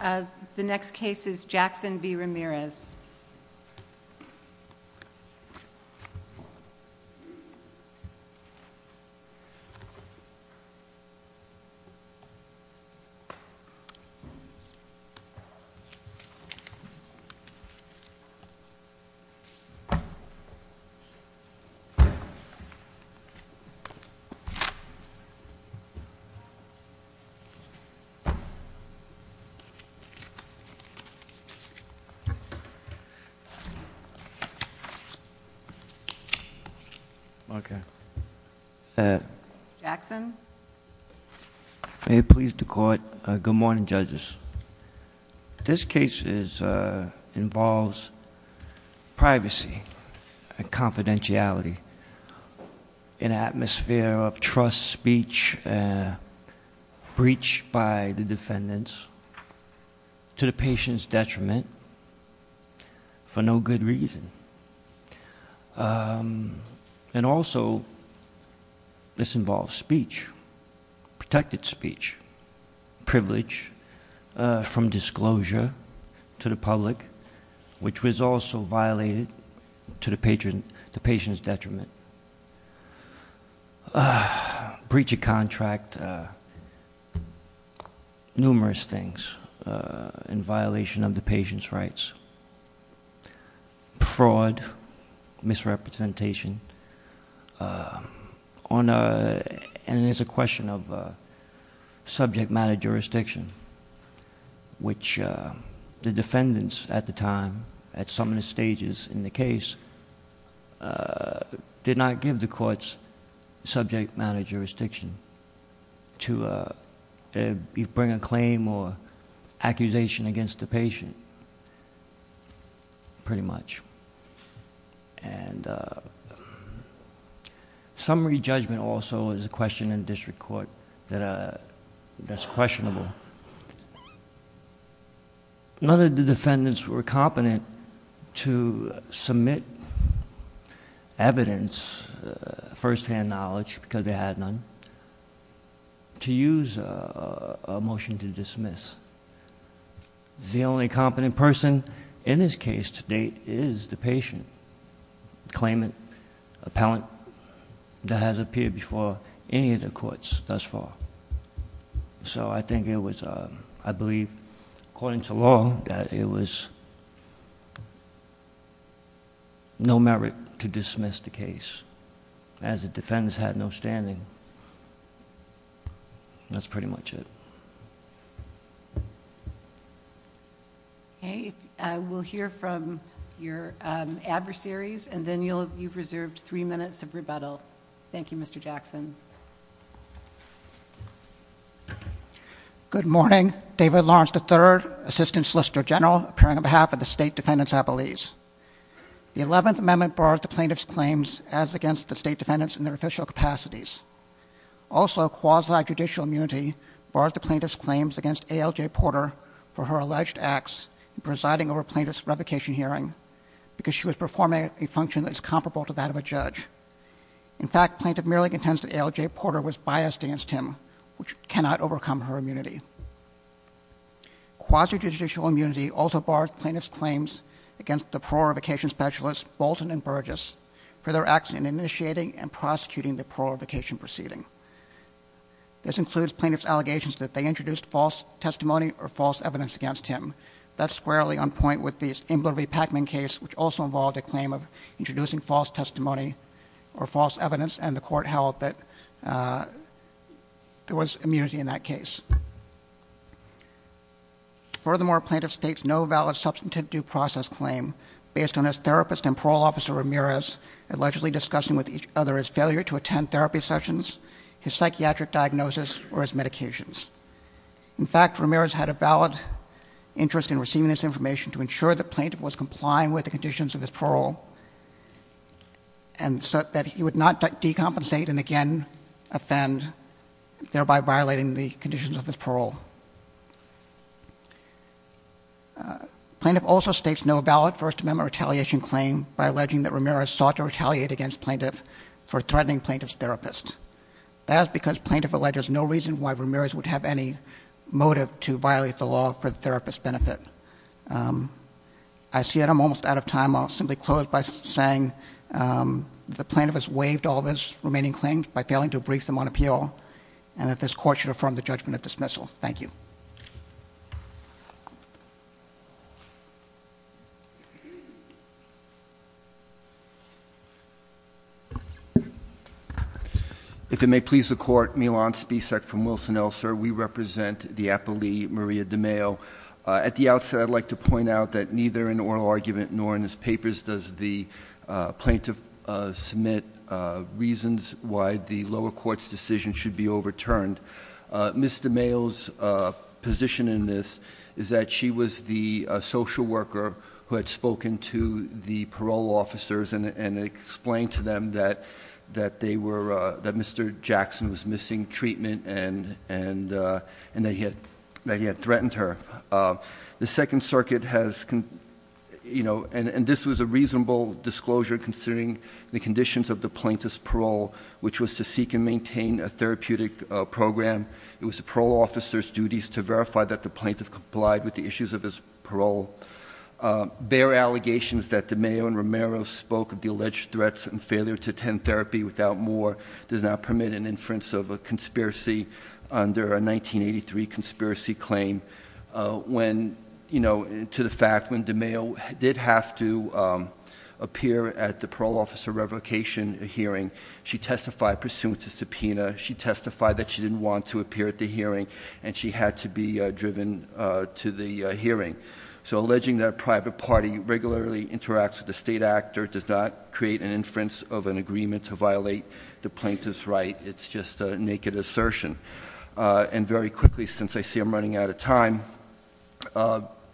The next case is Jackson v. Ramirez. May it please the Court, good morning, judges. This case involves privacy and confidentiality, an atmosphere of trust, speech, breach by the defendants to the patient's detriment for no good reason. And also, this involves speech, protected speech, privilege from disclosure to the public which was also violated to the patient's detriment. Breach of contract, numerous things in violation of the patient's rights, fraud, misrepresentation, and there's a question of subject matter jurisdiction which the defendants at the time, at some stages in the case, did not give the courts subject matter jurisdiction to bring a claim or accusation against the patient, pretty much. Summary judgment also is a question in district court that's questionable. None of the defendants were competent to submit evidence, firsthand knowledge because they had none, to use a motion to dismiss. The only competent person in this case to date is the patient, claimant, appellant that has appeared before any of the courts thus far. So, I think it was, I believe, according to law, that it was no merit to dismiss the case as the defendants had no standing. That's pretty much it. Okay, we'll hear from your adversaries and then you've reserved three minutes of rebuttal. Thank you, Mr. Jackson. Good morning. David Lawrence, III, Assistant Solicitor General, appearing on behalf of the State Defendants Appellees. The Eleventh Amendment bars the plaintiff's claims as against the State Defendants in their official capacities. Also quasi-judicial immunity bars the plaintiff's claims against A.L.J. Porter for her alleged acts in presiding over a plaintiff's revocation hearing because she was performing a function that is comparable to that of a judge. In fact, plaintiff merely contends that A.L.J. Porter was biased against him, which cannot overcome her immunity. Quasi-judicial immunity also bars plaintiff's claims against the prorogation specialists Bolton and Burgess for their acts in initiating and prosecuting the prorogation proceeding. This includes plaintiff's allegations that they introduced false testimony or false evidence against him. That's squarely on point with the Imler v. Packman case, which also involved a claim of introducing false testimony or false evidence, and the Court held that there was immunity in that case. Furthermore, plaintiff states no valid substantive due process claim based on his therapist and parole officer Ramirez allegedly discussing with each other his failure to attend therapy sessions, his psychiatric diagnosis, or his medications. In fact, Ramirez had a valid interest in receiving this information to ensure the plaintiff was accountable, and so that he would not decompensate and again offend, thereby violating the conditions of his parole. Plaintiff also states no valid First Amendment retaliation claim by alleging that Ramirez sought to retaliate against plaintiff for threatening plaintiff's therapist. That is because plaintiff alleges no reason why Ramirez would have any motive to violate the law for the therapist's benefit. I see that I'm almost out of time. I'll simply close by saying that the plaintiff has waived all of his remaining claims by failing to brief them on appeal, and that this Court should affirm the judgment of dismissal. Thank you. If it may please the Court, Milan Spisak from Wilson-Elser. We represent the appellee, Maria DeMeo. At the outset, I'd like to point out that neither in oral argument nor in his papers does the plaintiff submit reasons why the lower court's decision should be overturned. Ms. DeMeo's position in this is that she was the social worker who had spoken to the parole officers and explained to them that Mr. Jackson was missing treatment and that he had threatened her. The Second Circuit has, and this was a reasonable disclosure considering the conditions of the plaintiff's parole, which was to seek and maintain a therapeutic program. It was the parole officer's duties to verify that the plaintiff complied with the issues of his parole. Their allegations that DeMeo and Romero spoke of the alleged threats and failure to attend therapy without more does not permit an inference of a conspiracy under a 1983 conspiracy claim when, to the fact, when DeMeo did have to appear at the parole officer revocation hearing, she testified pursuant to subpoena, she testified that she didn't want to appear at the hearing, and she had to be driven to the hearing. So alleging that a private party regularly interacts with a state actor does not create an inference of an agreement to violate the plaintiff's right. It's just a naked assertion. And very quickly, since I see I'm running out of time,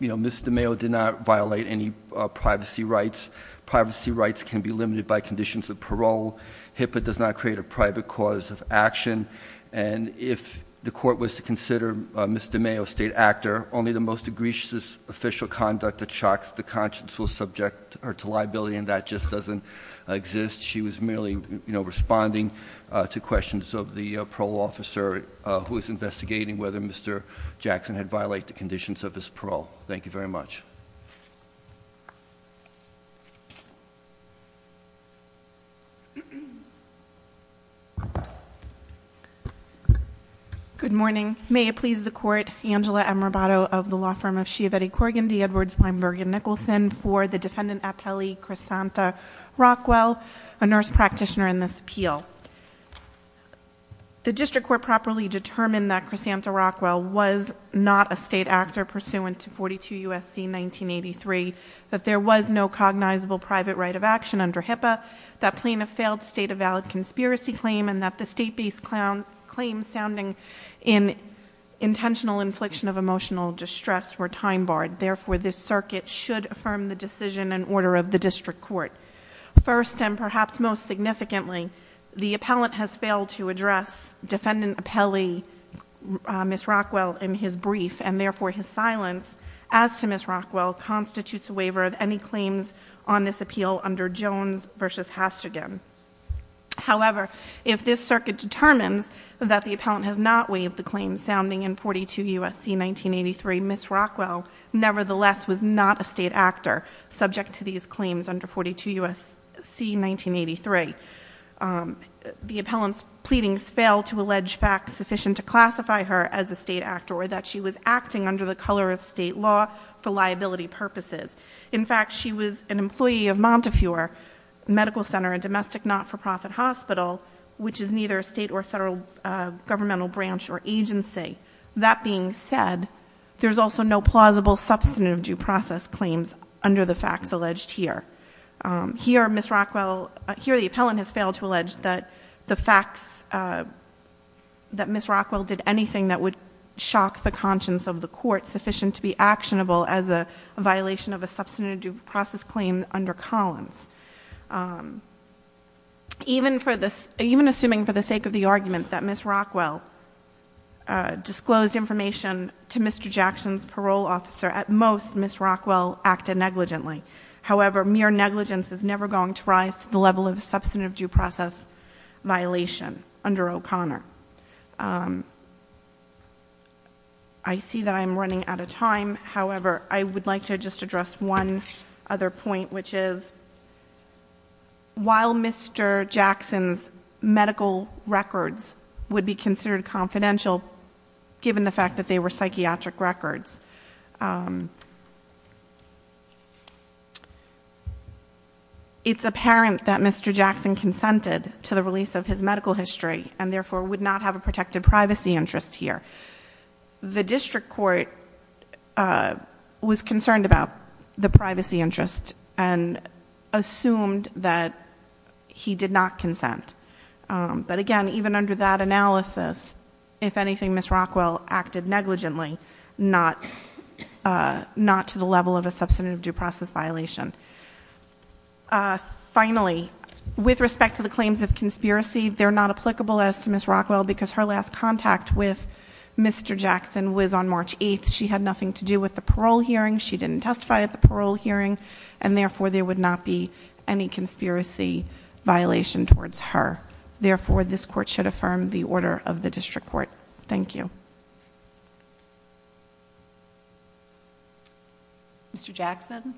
Ms. DeMeo did not violate any privacy rights. Privacy rights can be limited by conditions of parole. HIPAA does not create a private cause of action. And if the court was to consider Ms. DeMeo a state actor, only the most egregious official conduct that shocks the conscience will subject her to liability, and that just doesn't exist. She was merely responding to questions of the parole officer who is investigating whether Mr. Jackson had violated the conditions of his parole. Thank you very much. Good morning. May it please the court, Angela Amrabato of the law firm of Chiavetti Corrigan D. Edwards Weinberg and Nicholson for the defendant appellee, Crisanta Rockwell, a nurse practitioner in this appeal. The district court properly determined that Crisanta Rockwell was not a state actor pursuant to 42 USC 1983, that there was no cognizable private right of action under HIPAA, that plaintiff failed to state a valid conspiracy claim, and that the state-based claims sounding in intentional infliction of emotional distress were time barred. Therefore, this circuit should affirm the decision and order of the district court. First, and perhaps most significantly, the appellant has failed to address defendant appellee Ms. Rockwell in his brief, and therefore his silence, as to Ms. Rockwell, constitutes a waiver of any claims on this appeal under Jones versus Hashtagin. However, if this circuit determines that the appellant has not waived the claims sounding in 42 USC 1983, Ms. Rockwell, nevertheless, was not a state actor subject to these claims under 42 USC 1983. The appellant's pleadings fail to allege facts sufficient to classify her as a state actor or that she was acting under the color of state law for liability purposes. In fact, she was an employee of Montefiore Medical Center, a domestic not-for-profit hospital, which is neither a state or federal governmental branch or agency. That being said, there's also no plausible substantive due process claims under the facts alleged here. Here, Ms. Rockwell, here the appellant has failed to allege that the facts that Ms. Rockwell did anything that would shock the conscience of the court, were not sufficient to be actionable as a violation of a substantive due process claim under Collins. Even assuming for the sake of the argument that Ms. Rockwell disclosed information to Mr. Jackson's parole officer, at most, Ms. Rockwell acted negligently. However, mere negligence is never going to rise to the level of a substantive due process violation under O'Connor. I see that I'm running out of time. However, I would like to just address one other point, which is, while Mr. Jackson's medical records would be considered confidential, given the fact that they were psychiatric records, It's apparent that Mr. Jackson consented to the release of his medical history, and therefore would not have a protected privacy interest here. The district court was concerned about the privacy interest, and assumed that he did not consent. But again, even under that analysis, if anything, Ms. Rockwell acted negligently, not to the level of a substantive due process violation. Finally, with respect to the claims of conspiracy, they're not applicable as to Ms. Rockwell, because her last contact with Mr. Jackson was on March 8th. She had nothing to do with the parole hearing. She didn't testify at the parole hearing. And therefore, there would not be any conspiracy violation towards her. Therefore, this court should affirm the order of the district court. Thank you. Mr. Jackson?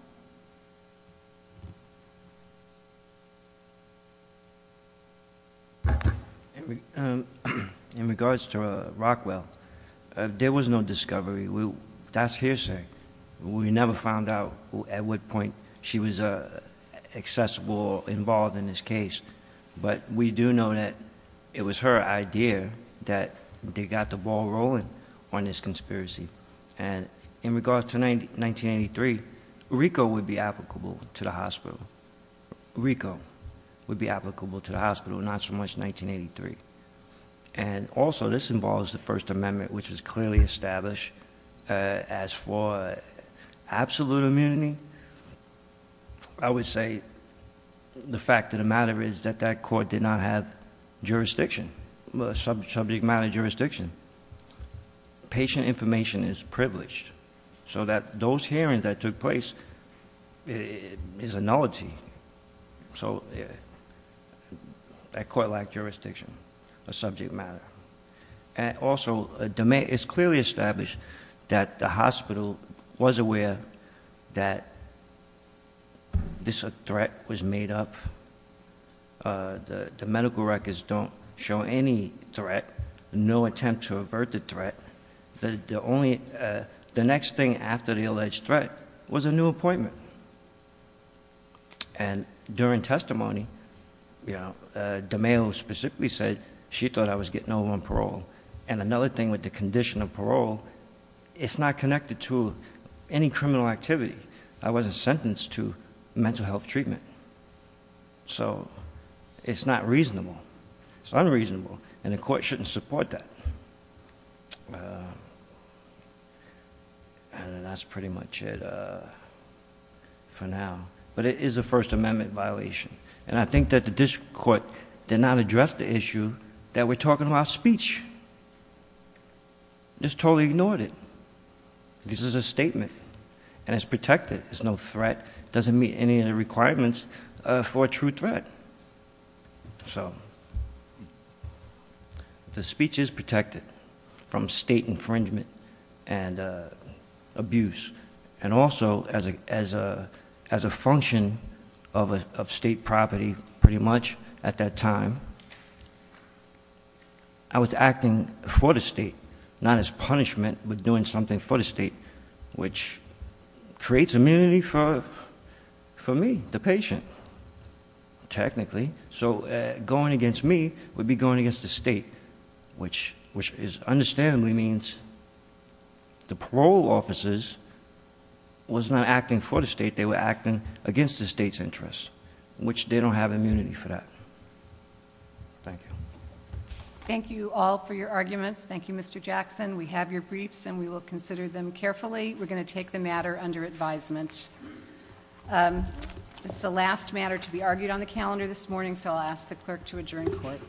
In regards to Rockwell, there was no discovery. That's hearsay. We never found out at what point she was accessible, involved in this case. But we do know that it was her idea that they got the ball rolling on this conspiracy. And in regards to 1983, RICO would be applicable to the hospital. RICO would be applicable to the hospital, not so much 1983. And also, this involves the First Amendment, which was clearly established as for absolute immunity. I would say, the fact of the matter is that that court did not have jurisdiction. Subject matter jurisdiction. Patient information is privileged, so that those hearings that took place is a nullity. So, that court lacked jurisdiction, a subject matter. And also, it's clearly established that the hospital was aware that this threat was made up. The medical records don't show any threat, no attempt to avert the threat. The next thing after the alleged threat was a new appointment. And during testimony, the male specifically said, she thought I was getting over on parole. And another thing with the condition of parole, it's not connected to any criminal activity. I wasn't sentenced to mental health treatment. So, it's not reasonable. It's unreasonable. And the court shouldn't support that. And that's pretty much it for now. But it is a First Amendment violation. And I think that the district court did not address the issue that we're talking about speech. Just totally ignored it. This is a statement. And it's protected. There's no threat. Doesn't meet any of the requirements for a true threat. So, the speech is protected from state infringement and abuse, and also as a function of state property, pretty much, at that time. I was acting for the state, not as punishment, but doing something for the state, which creates immunity for me, the patient. Technically. So, going against me would be going against the state. Which is understandably means the parole officers was not acting for the state. They were acting against the state's interest, which they don't have immunity for that. Thank you. Thank you all for your arguments. Thank you, Mr. Jackson. We have your briefs and we will consider them carefully. We're going to take the matter under advisement. It's the last matter to be argued on the calendar this morning, so I'll ask the clerk to adjourn court. Court is adjourned.